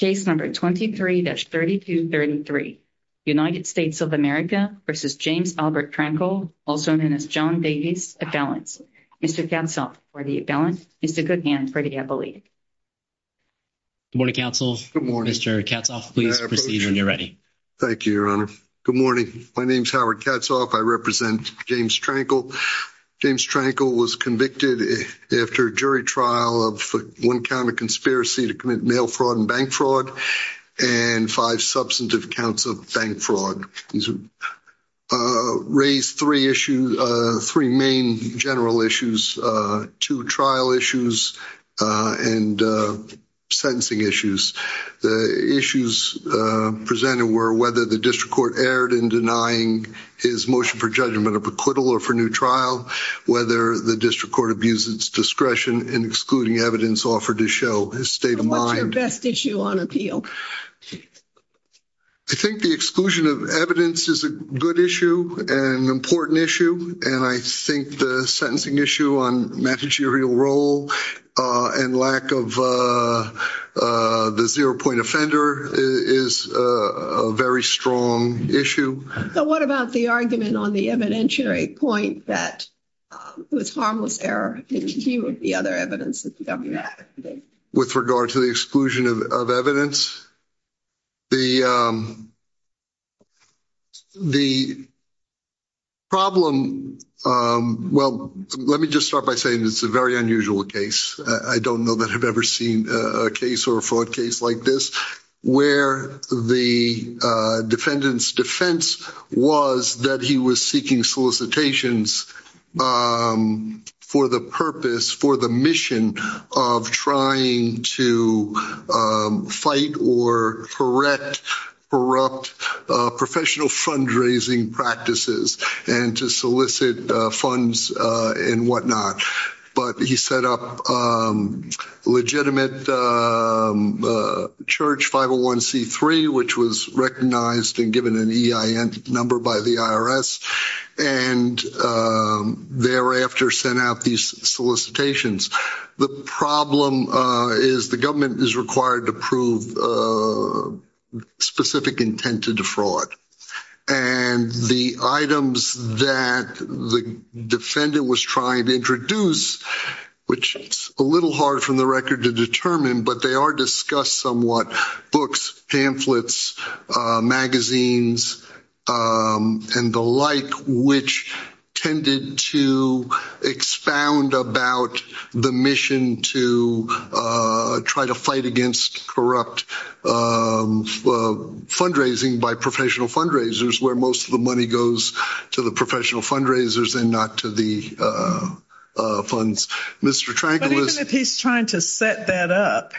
23-3233 United States of America v. James Albert Trankle, also known as John Davies Abelance. Mr. Katzhoff, for the Abelance, is the good hand for the appellee. Good morning, counsel. Mr. Katzhoff, please proceed when you're ready. Thank you, your honor. Good morning. My name is Howard Katzhoff. I represent James Trankle. James Trankle was convicted after a jury trial of one count of conspiracy to commit mail fraud and bank fraud and five substantive counts of bank fraud. He's raised three issues, three main general issues, two trial issues and sentencing issues. The issues presented were whether the district court erred in denying his motion for judgment of acquittal or for new trial, whether the district court abused its discretion in excluding evidence offered to show his state of mind. What's your best issue on appeal? I think the exclusion of evidence is a good issue and an important issue. And I think the sentencing issue on managerial role and lack of the zero point offender is a very strong issue. But what about the argument on the evidentiary point that it was harmless error? With regard to the exclusion of evidence, the problem, well, let me just start by saying it's a very unusual case. I don't know that I've ever seen a case or a fraud case like this where the defendant's defense was that he was seeking solicitations for the purpose, for the mission of trying to fight or correct corrupt professional fundraising practices and to solicit funds and whatnot. But he set up legitimate Church 501C3, which was recognized and given an EIN number by the IRS and thereafter sent out these solicitations. The problem is the government is required to prove specific intent to defraud. And the items that the defendant was trying to introduce, which is a little hard from the record to determine, but they are discussed somewhat. Books, pamphlets, magazines, and the like, which tended to expound about the mission to try to fight against corrupt fundraising by professional fundraisers, where most of the money goes to the professional fundraisers and not to the funds. But even if he's trying to set that up,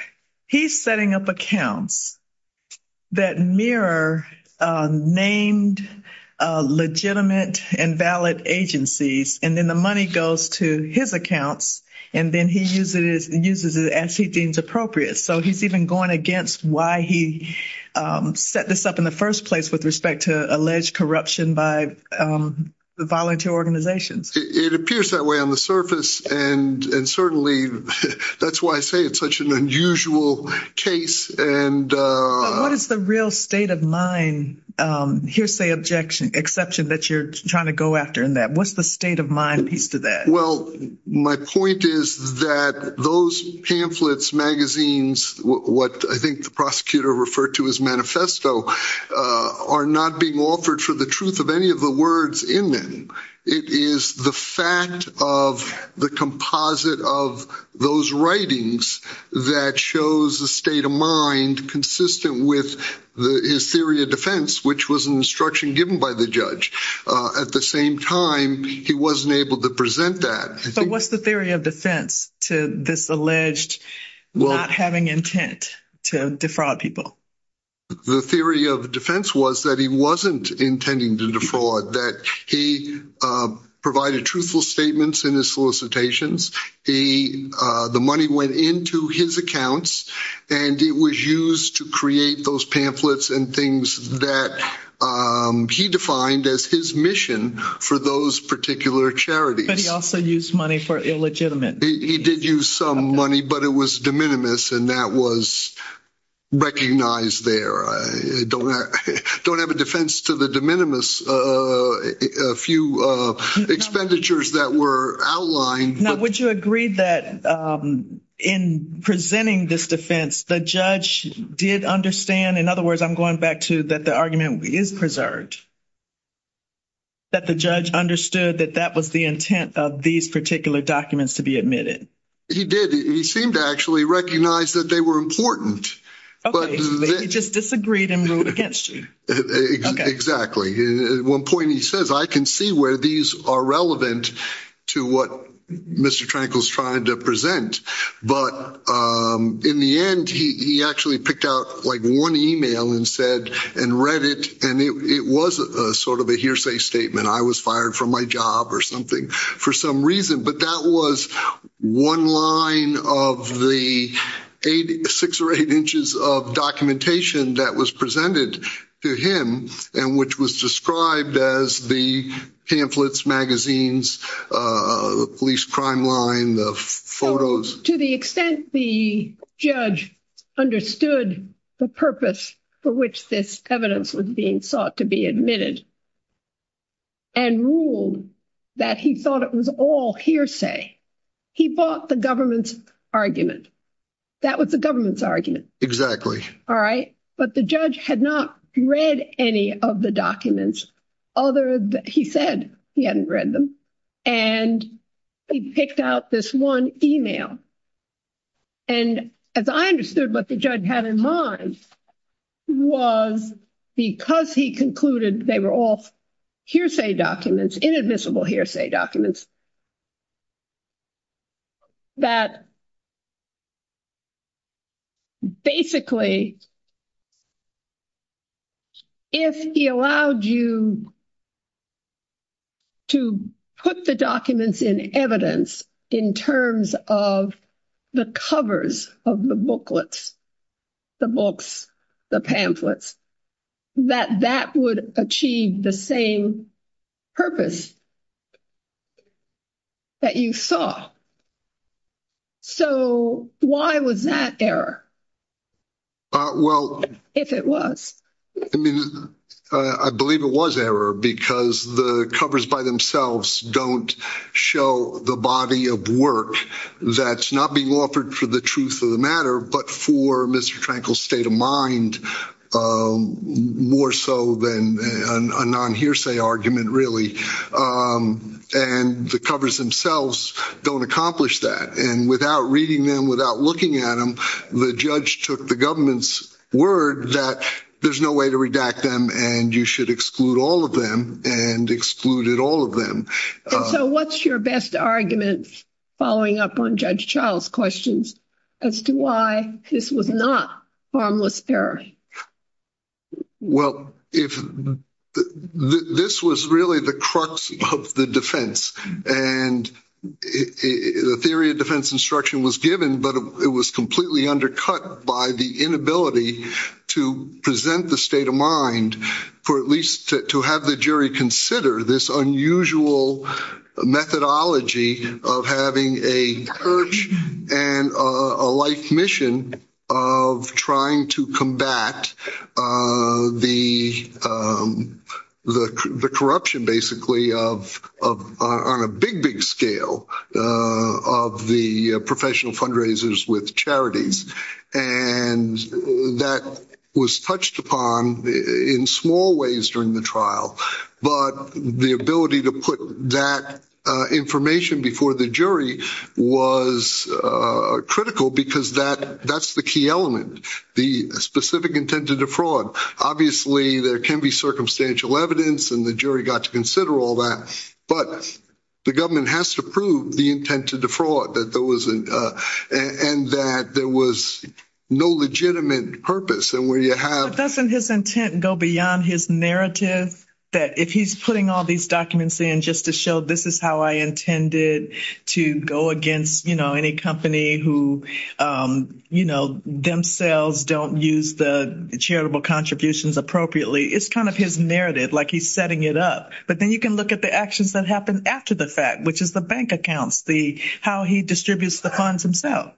he's setting up accounts that mirror named legitimate and valid agencies, and then the money goes to his accounts, and then he uses it as he deems appropriate. So he's even going against why he set this up in the first place with respect to alleged corruption by the volunteer organizations. It appears that way on the surface, and certainly that's why I say it's such an unusual case. What is the real state of mind, hearsay objection, exception that you're trying to go after in that? What's the state of mind piece to that? Well, my point is that those pamphlets, magazines, what I think the prosecutor referred to as manifesto, are not being offered for the truth of any of the words in them. It is the fact of the composite of those writings that shows the state of mind consistent with his theory of defense, which was an instruction given by the judge. At the same time, he wasn't able to present that. But what's the theory of defense to this alleged not having intent to defraud people? The theory of defense was that he wasn't intending to defraud, that he provided truthful statements in his solicitations. The money went into his accounts, and it was used to create those pamphlets and things that he defined as his mission for those particular charities. But he also used money for illegitimate things. He did use some money, but it was de minimis, and that was recognized there. I don't have a defense to the de minimis, a few expenditures that were outlined. But would you agree that in presenting this defense, the judge did understand? In other words, I'm going back to that the argument is preserved, that the judge understood that that was the intent of these particular documents to be admitted. He did. He seemed to actually recognize that they were important. He just disagreed and ruled against you. Exactly. At one point he says, I can see where these are relevant to what Mr. Trankel is trying to present. But in the end, he actually picked out like one email and read it, and it was sort of a hearsay statement. I was fired from my job or something for some reason. But that was one line of the six or eight inches of documentation that was presented to him, and which was described as the pamphlets, magazines, police crime line, the photos. To the extent the judge understood the purpose for which this evidence was being sought to be admitted, and ruled that he thought it was all hearsay, he bought the government's argument. That was the government's argument. All right. But the judge had not read any of the documents other than he said he hadn't read them. And he picked out this one email. And as I understood what the judge had in mind was because he concluded they were all hearsay documents, inadmissible hearsay documents, that basically if he allowed you to put the documents in evidence in terms of the covers of the booklets, the books, the pamphlets, that that would achieve the same purpose that you saw. So why was that error, if it was? I believe it was error because the covers by themselves don't show the body of work that's not being offered for the truth of the matter, but for Mr. Trankel's state of mind, more so than a non-hearsay argument, really. And the covers themselves don't accomplish that. And without reading them, without looking at them, the judge took the government's word that there's no way to redact them, and you should exclude all of them, and excluded all of them. And so what's your best argument following up on Judge Charles' questions as to why this was not harmless theory? Well, this was really the crux of the defense. And the theory of defense instruction was given, but it was completely undercut by the inability to present the state of mind for at least to have the jury consider this unusual methodology of having a perch and a life mission of trying to combat the corruption, basically, on a big, big scale of the professional fundraisers with charities. And that was touched upon in small ways during the trial. But the ability to put that information before the jury was critical because that's the key element, the specific intent to defraud. Obviously, there can be circumstantial evidence, and the jury got to consider all that, but the government has to prove the intent to defraud, and that there was no legitimate purpose. But doesn't his intent go beyond his narrative that if he's putting all these documents in just to show this is how I intended to go against, you know, any company who, you know, themselves don't use the charitable contributions appropriately. It's kind of his narrative, like he's setting it up. But then you can look at the actions that happened after the fact, which is the bank accounts, how he distributes the funds himself.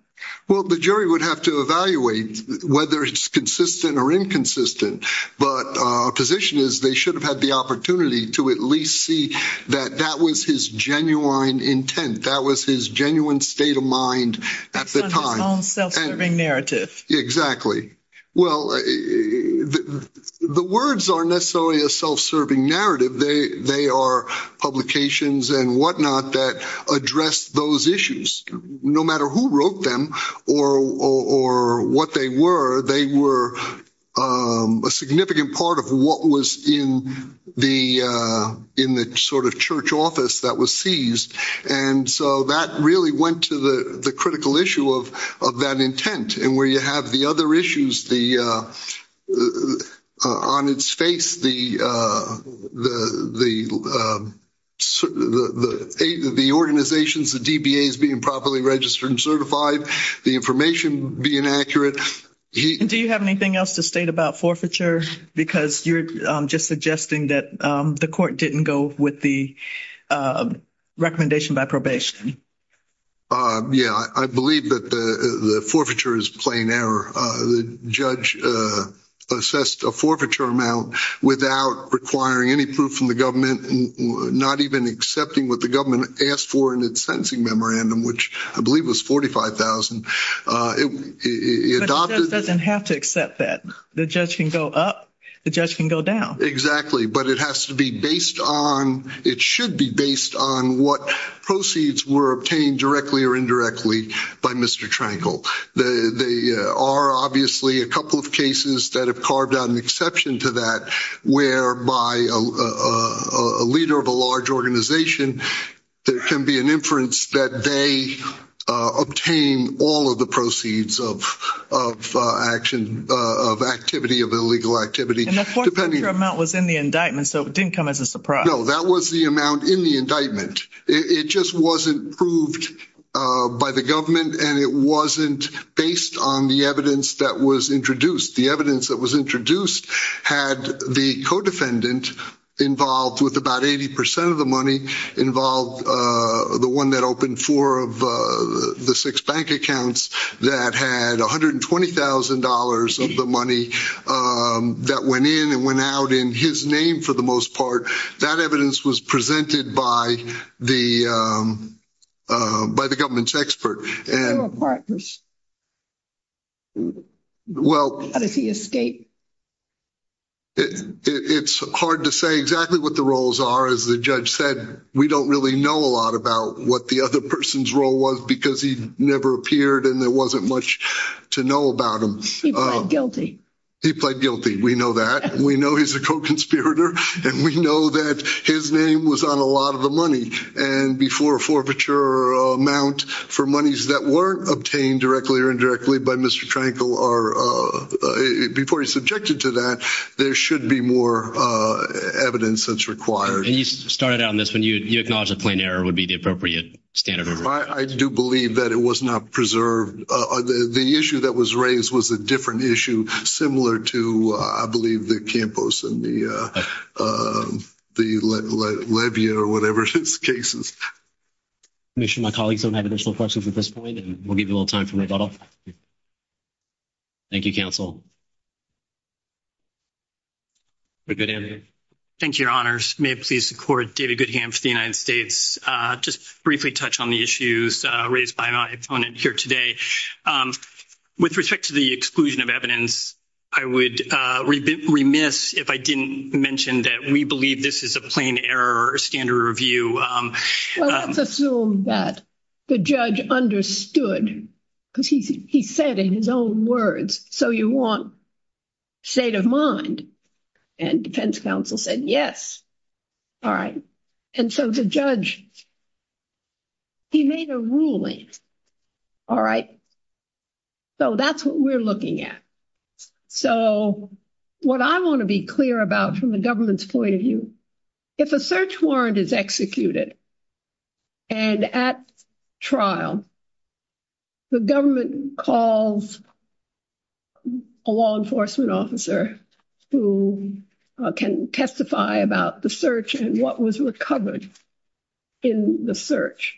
Well, the jury would have to evaluate whether it's consistent or inconsistent, but our position is they should have had the opportunity to at least see that that was his genuine intent, that was his genuine state of mind at the time. His own self-serving narrative. Exactly. Well, the words aren't necessarily a self-serving narrative. They are publications and whatnot that address those issues. No matter who wrote them or what they were, they were a significant part of what was in the sort of church office that was seized. And so that really went to the critical issue of that intent. And where you have the other issues on its face, the organizations, the DBAs being properly registered and certified, the information being accurate. Do you have anything else to state about forfeiture? Because you're just suggesting that the court didn't go with the recommendation by probation. Yeah, I believe that the forfeiture is plain error. The judge assessed a forfeiture amount without requiring any proof from the government, not even accepting what the government asked for in its sentencing memorandum, which I believe was $45,000. But the judge doesn't have to accept that. The judge can go up, the judge can go down. Exactly. But it has to be based on, it should be based on what proceeds were obtained directly or indirectly by Mr. Trankel. There are obviously a couple of cases that have carved out an exception to that, whereby a leader of a large organization, there can be an inference that they obtain all of the proceeds of action, of activity, of illegal activity. And the forfeiture amount was in the indictment, so it didn't come as a surprise. No, that was the amount in the indictment. It just wasn't proved by the government, and it wasn't based on the evidence that was introduced. The evidence that was introduced had the co-defendant involved with about 80% of the money, involved the one that opened four of the six bank accounts that had $120,000 of the money that went in and went out in his name for the most part. That evidence was presented by the government's expert. They were partners. How does he escape? It's hard to say exactly what the roles are. As the judge said, we don't really know a lot about what the other person's role was because he never appeared and there wasn't much to know about him. He pled guilty. We know that. We know he's a co-conspirator, and we know that his name was on a lot of the money. And before a forfeiture amount for monies that weren't obtained directly or indirectly by Mr. Trankel, before he's subjected to that, there should be more evidence that's required. And you started out on this when you acknowledged that plain error would be the appropriate standard. I do believe that it was not preserved. The issue that was raised was a different issue, similar to, I believe, the Campos and the Levia or whatever his case is. I'm sure my colleagues don't have additional questions at this point, and we'll give you a little time for rebuttal. Thank you, counsel. Thank you, your honors. May it please the court, David Goodham for the United States. Just briefly touch on the issues raised by my opponent here today. With respect to the exclusion of evidence, I would remiss if I didn't mention that we believe this is a plain error standard review. Let's assume that the judge understood because he said in his own words, so you want state of mind. And defense counsel said, yes. All right. And so the judge, he made a ruling. All right. So that's what we're looking at. So what I want to be clear about from the government's point of view, if a search warrant is executed. And at trial, the government calls a law enforcement officer who can testify about the search and what was recovered in the search.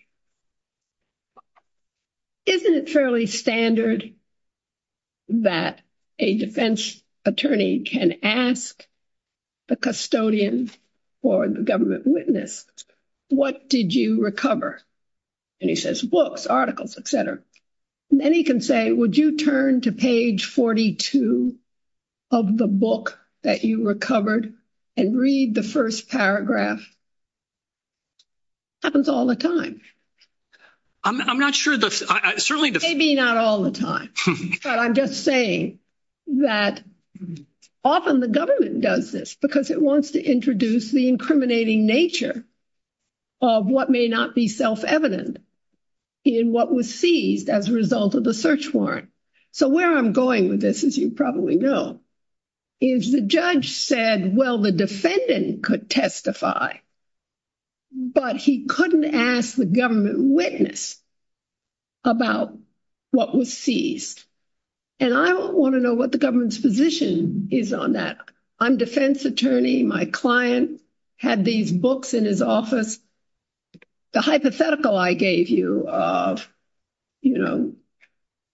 Isn't it fairly standard that a defense attorney can ask the custodian or the government witness, what did you recover? And he says books, articles, et cetera. And then he can say, would you turn to page 42 of the book that you recovered and read the first paragraph? Happens all the time. I'm not sure. Certainly. Maybe not all the time, but I'm just saying that often the government does this because it wants to introduce the incriminating nature. Of what may not be self evident in what was seized as a result of the search warrant. So where I'm going with this, as you probably know, is the judge said, well, the defendant could testify. But he couldn't ask the government witness about what was seized. And I want to know what the government's position is on that. I'm defense attorney. My client had these books in his office. The hypothetical I gave you of, you know,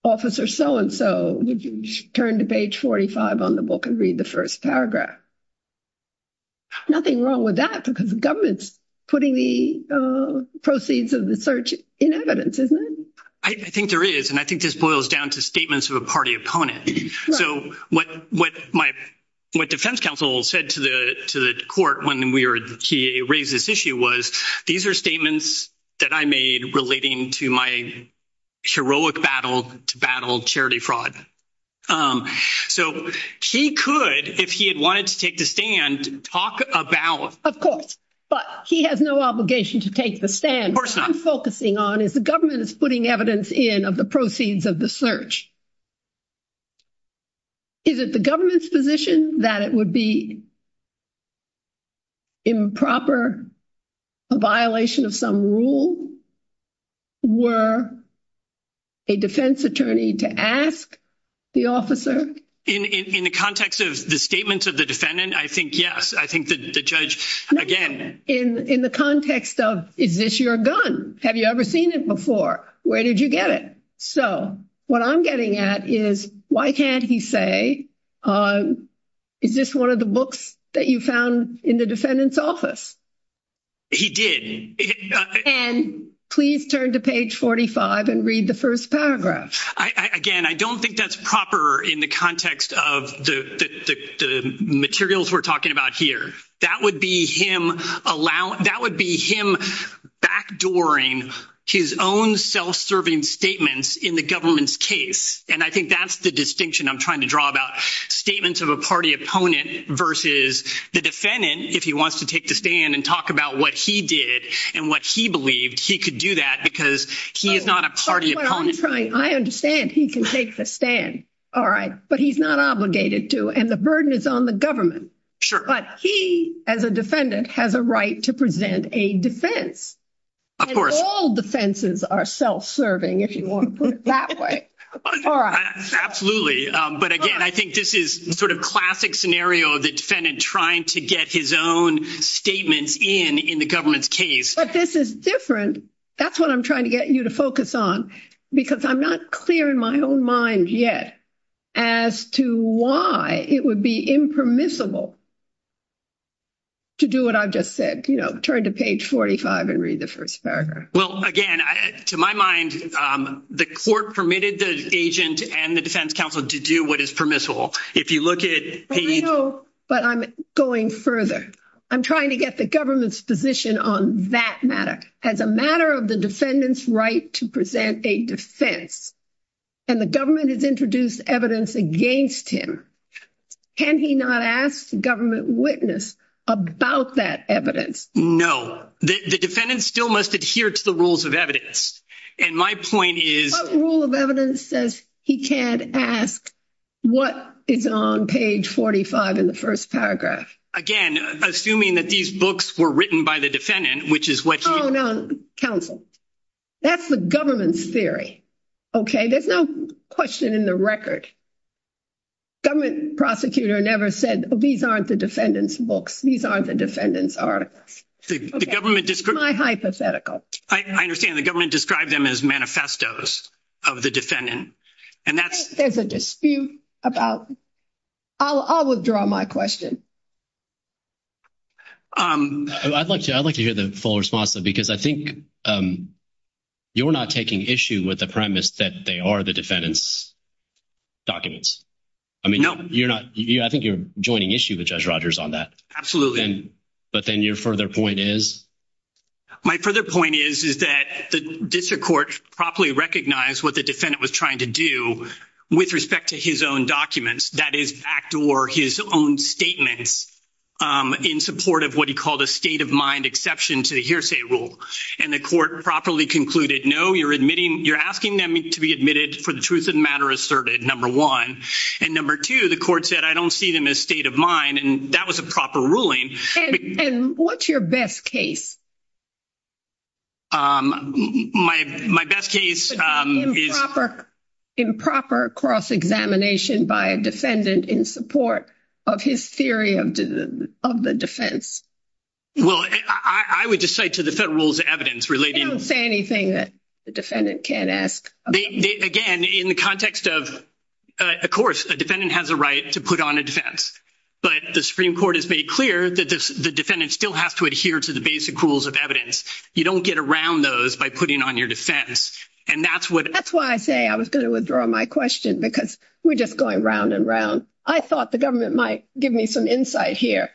officer so and so, would you turn to page 45 on the book and read the first paragraph? Nothing wrong with that because the government's putting the proceeds of the search in evidence, isn't it? I think there is. And I think this boils down to statements of a party opponent. So what my defense counsel said to the court when he raised this issue was these are statements that I made relating to my heroic battle to battle charity fraud. So he could, if he had wanted to take the stand, talk about. Of course, but he has no obligation to take the stand. What I'm focusing on is the government is putting evidence in of the proceeds of the search. Is it the government's position that it would be improper, a violation of some rule? Were a defense attorney to ask the officer in the context of the statements of the defendant? I think, yes, I think the judge again, in the context of is this your gun? Have you ever seen it before? Where did you get it? So what I'm getting at is why can't he say is this one of the books that you found in the defendant's office? He did. And please turn to page 45 and read the first paragraph. I again, I don't think that's proper in the context of the materials we're talking about here. That would be him. That would be him backdooring his own self-serving statements in the government's case. And I think that's the distinction I'm trying to draw about statements of a party opponent versus the defendant. If he wants to take the stand and talk about what he did and what he believed, he could do that because he is not a party. I understand he can take the stand. All right, but he's not obligated to and the burden is on the government. But he, as a defendant, has a right to present a defense. Of course, all defenses are self-serving if you want to put it that way. Absolutely. But again, I think this is sort of classic scenario of the defendant trying to get his own statements in the government's case. But this is different. And that's what I'm trying to get you to focus on. Because I'm not clear in my own mind yet as to why it would be impermissible to do what I've just said. Turn to page 45 and read the first paragraph. Well, again, to my mind, the court permitted the agent and the defense counsel to do what is permissible. But I'm going further. I'm trying to get the government's position on that matter. It's a matter of the defendant's right to present a defense. And the government has introduced evidence against him. Can he not ask the government witness about that evidence? No, the defendant still must adhere to the rules of evidence. And my point is... What rule of evidence says he can't ask what is on page 45 in the first paragraph? Again, assuming that these books were written by the defendant, which is what you... Counsel, that's the government's theory. Okay, there's no question in the record. Government prosecutor never said, these aren't the defendant's books. These aren't the defendant's articles. It's my hypothetical. I understand. The government described them as manifestos of the defendant. And that's... There's a dispute about... I'll withdraw my question. I'd like to hear the full response, because I think... You're not taking issue with the premise that they are the defendant's documents. No. I think you're joining issue with Judge Rogers on that. Absolutely. But then your further point is? My further point is that the district court properly recognized what the defendant was trying to do with respect to his own documents. That is, backdoor his own statements in support of what he called a state-of-mind exception to the hearsay rule. And the court properly concluded, no, you're admitting... You're asking them to be admitted for the truth of the matter asserted, number one. And number two, the court said, I don't see them as state-of-mind. And that was a proper ruling. And what's your best case? My best case is... Improper cross-examination by a defendant in support of his theory of the defense. Well, I would just say to the federal's evidence relating... They don't say anything that the defendant can't ask. Again, in the context of... Of course, a defendant has a right to put on a defense. But the Supreme Court has made clear that the defendant still has to adhere to the basic rules of evidence. You don't get around those by putting on your defense. And that's what... That's why I say I was going to withdraw my question. Because we're just going round and round. I thought the government might give me some insight here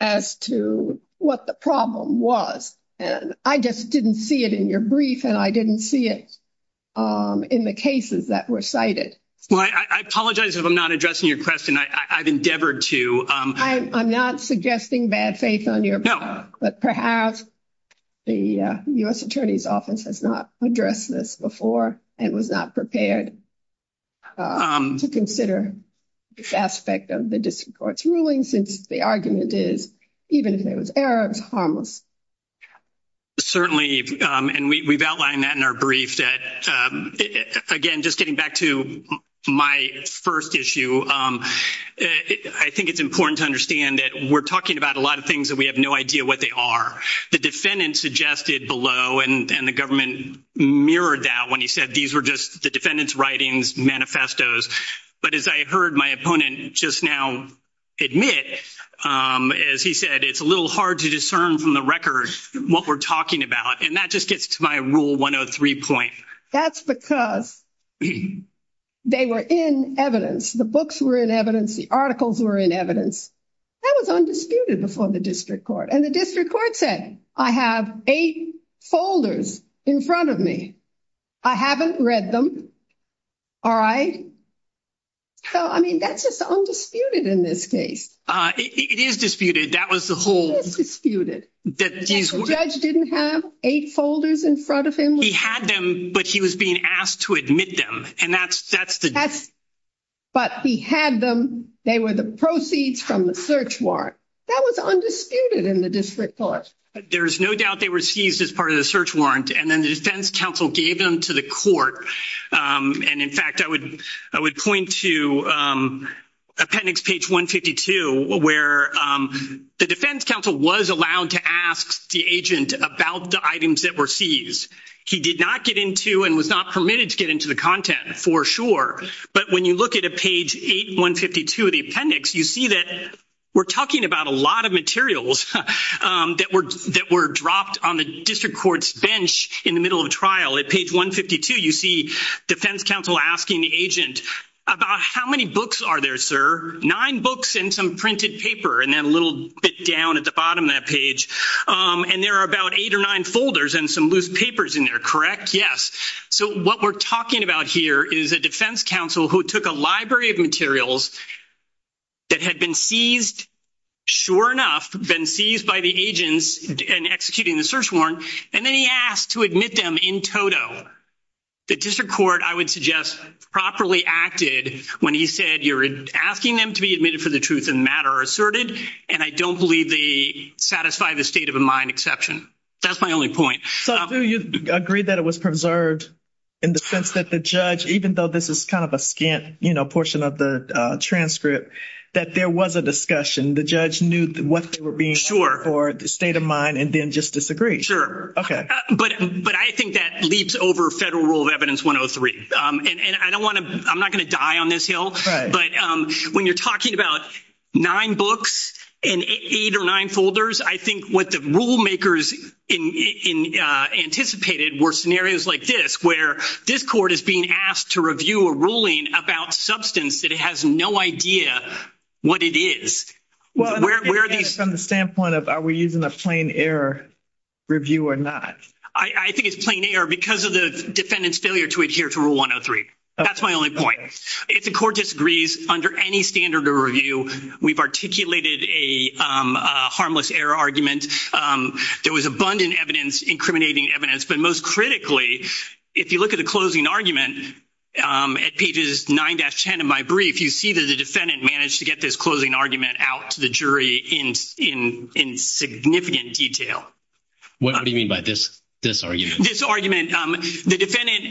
as to what the problem was. And I just didn't see it in your brief. And I didn't see it in the cases that were cited. I apologize if I'm not addressing your question. I've endeavored to... I'm not suggesting bad faith on your part. But perhaps the U.S. Attorney's Office has not addressed this before. And was not prepared to consider this aspect of the District Court's ruling. Since the argument is, even if there was error, it was harmless. Certainly. And we've outlined that in our brief. Again, just getting back to my first issue. I think it's important to understand that we're talking about a lot of things that we have no idea what they are. The defendant suggested below. And the government mirrored that when he said these were just the defendant's writings, manifestos. But as I heard my opponent just now admit, as he said, it's a little hard to discern from the record what we're talking about. And that just gets to my Rule 103 point. That's because they were in evidence. The books were in evidence. The articles were in evidence. That was undisputed before the District Court. And the District Court said, I have eight folders in front of me. I haven't read them. All right? So, I mean, that's just undisputed in this case. It is disputed. That was the whole... It is disputed. The judge didn't have eight folders in front of him. He had them, but he was being asked to admit them. And that's the... That's... But he had them. They were the proceeds from the search warrant. That was undisputed in the District Court. There is no doubt they were seized as part of the search warrant. And then the defense counsel gave them to the court. And, in fact, I would point to appendix page 152, where the defense counsel was allowed to ask the agent about the items that were seized. He did not get into and was not permitted to get into the content, for sure. But when you look at page 8152 of the appendix, you see that we're talking about a lot of materials that were dropped on the District Court's bench in the middle of a trial. At page 152, you see defense counsel asking the agent about how many books are there, sir? Nine books and some printed paper. And then a little bit down at the bottom of that page. And there are about eight or nine folders and some loose papers in there, correct? Yes. So what we're talking about here is a defense counsel who took a library of materials that had been seized, sure enough, been seized by the agents in executing the search warrant, and then he asked to admit them in toto. The District Court, I would suggest, properly acted when he said, you're asking them to be admitted for the truth in the matter asserted, and I don't believe they satisfy the state of mind exception. That's my only point. So do you agree that it was preserved in the sense that the judge, even though this is kind of a scant portion of the transcript, that there was a discussion? The judge knew what they were being asked for, the state of mind, and then just disagreed? Okay. But I think that leaps over federal rule of evidence 103. And I'm not going to die on this hill, but when you're talking about nine books and eight or nine folders, I think what the rulemakers anticipated were scenarios like this, where this court is being asked to review a ruling about substance that it has no idea what it is. Well, from the standpoint of are we using a plain error review or not? I think it's plain error because of the defendant's failure to adhere to rule 103. That's my only point. If the court disagrees under any standard of review, we've articulated a harmless error argument. There was abundant evidence, incriminating evidence, but most critically, if you look at the closing argument at pages 9-10 of my brief, you see that the defendant managed to get this closing argument out to the jury in significant detail. What do you mean by this argument? The defendant,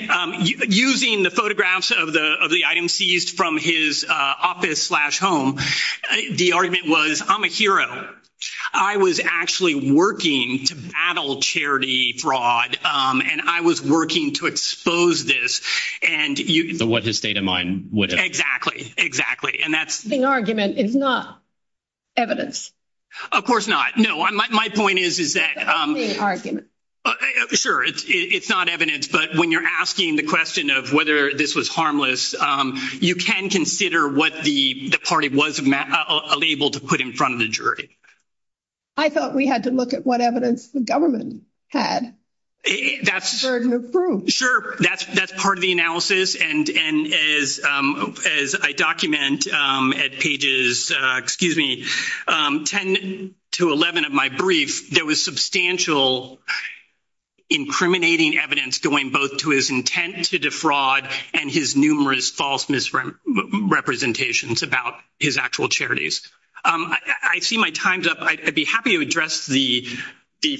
using the photographs of the items seized from his office slash home, the argument was, I'm a hero. I was actually working to battle charity fraud, and I was working to expose this. So what his state of mind would have. Exactly. And that's... The argument is not evidence. Of course not. No, my point is that... The opening argument. Sure, it's not evidence, but when you're asking the question of whether this was harmless, you can consider what the party was unable to put in front of the jury. I thought we had to look at what evidence the government had. That's... The burden of proof. Sure, that's part of the analysis, and as I document at pages 10-11 of my brief, there was substantial incriminating evidence going both to his intent to defraud and his numerous false misrepresentations about his actual charities. I see my time's up. I'd be happy to address the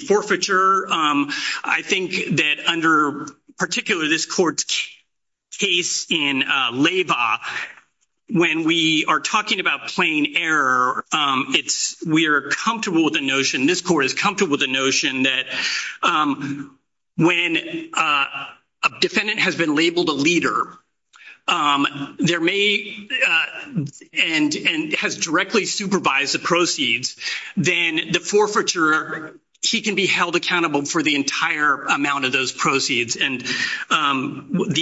forfeiture. I think that under particular this court's case in Leyva, when we are talking about plain error, we are comfortable with the notion, this court is comfortable with the notion, that when a defendant has been labeled a leader, and has directly supervised the proceeds, then the forfeiture, he can be held accountable for the entire amount of those proceeds. The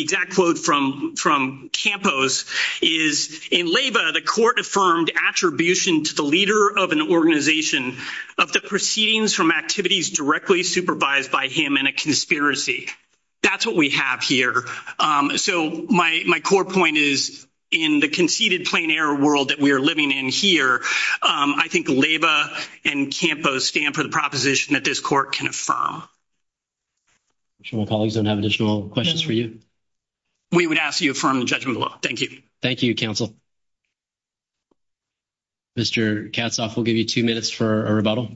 exact quote from Campos is, in Leyva, the court affirmed attribution to the leader of an organization of the proceedings from activities directly supervised by him in a conspiracy. That's what we have here. My core point is, in the conceded plain error world that we are living in here, I think Leyva and Campos stand for the proposition that this court can affirm. I'm sure my colleagues don't have additional questions for you. We would ask that you affirm the judgment of the law. Thank you. Thank you, counsel. Mr. Katzhoff, we'll give you two minutes for a rebuttal.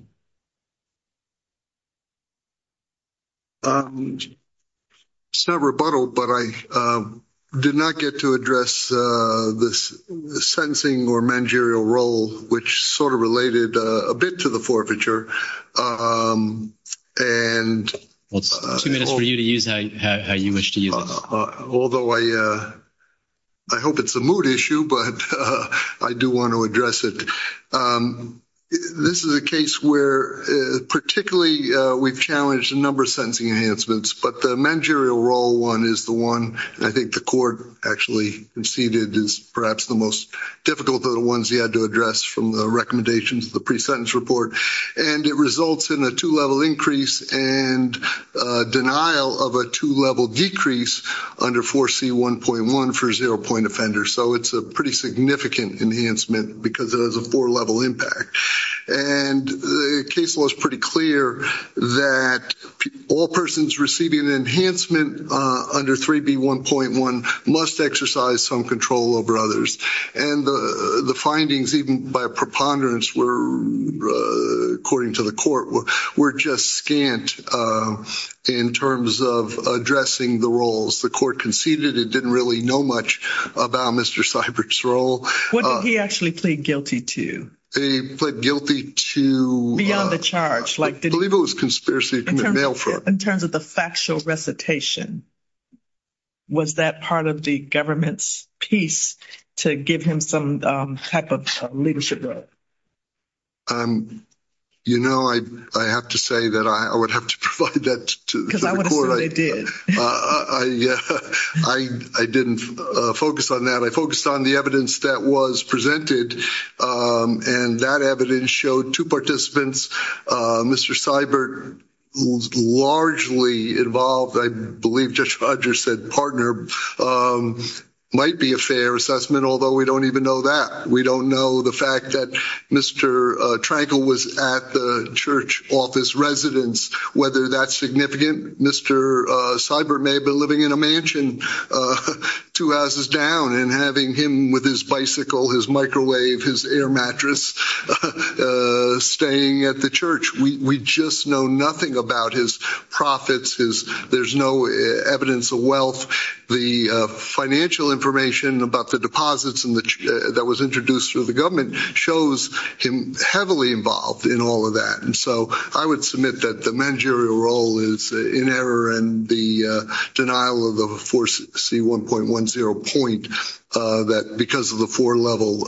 It's not a rebuttal, but I did not get to address the sentencing or mangerial role, which sort of related a bit to the forfeiture. Two minutes for you to use how you wish to use it. I hope it's a mood issue, but I do want to address it. This is a case where, particularly, we've challenged a number of sentencing enhancements, but the mangerial role one is the one I think the court actually conceded is perhaps the most difficult of the ones he had to address from the recommendations of the pre-sentence report. It results in a two-level increase and denial of a two-level decrease under 4C1.1 for zero-point offenders. It's a pretty significant enhancement because it has a four-level impact. The case law is pretty clear that all persons receiving an enhancement under 3B1.1 must exercise some control over others. The findings, even by a preponderance, according to the court, were just scant in terms of addressing the roles the court conceded. It didn't really know much about Mr. Seibert's role. What did he actually plead guilty to? He plead guilty to... Beyond the charge. I believe it was conspiracy to commit mail fraud. In terms of the factual recitation, was that part of the government's piece to give him some type of leadership role? You know, I have to say that I would have to provide that to the court. Because I want to say they did. I didn't focus on that. I focused on the evidence that was presented, and that evidence showed two participants. Mr. Seibert, who's largely involved, I believe Judge Rogers said partner, might be a fair assessment, although we don't even know that. We don't know the fact that Mr. Trankel was at the church office residence, whether that's significant. Mr. Seibert may have been living in a mansion two houses down and having him with his bicycle, his microwave, his air mattress, staying at the church. We just know nothing about his profits. There's no evidence of wealth. The financial information about the deposits that was introduced through the government shows him heavily involved in all of that. And so I would submit that the managerial role is in error and the denial of the 4C1.10 point, that because of the four-level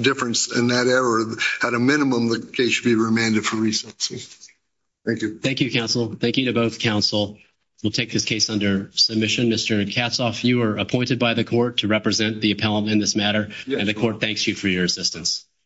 difference in that error, at a minimum, the case should be remanded for recency. Thank you. Thank you, counsel. Thank you to both counsel. We'll take this case under submission. Mr. Katzhoff, you are appointed by the court to represent the appellant in this matter, and the court thanks you for your assistance.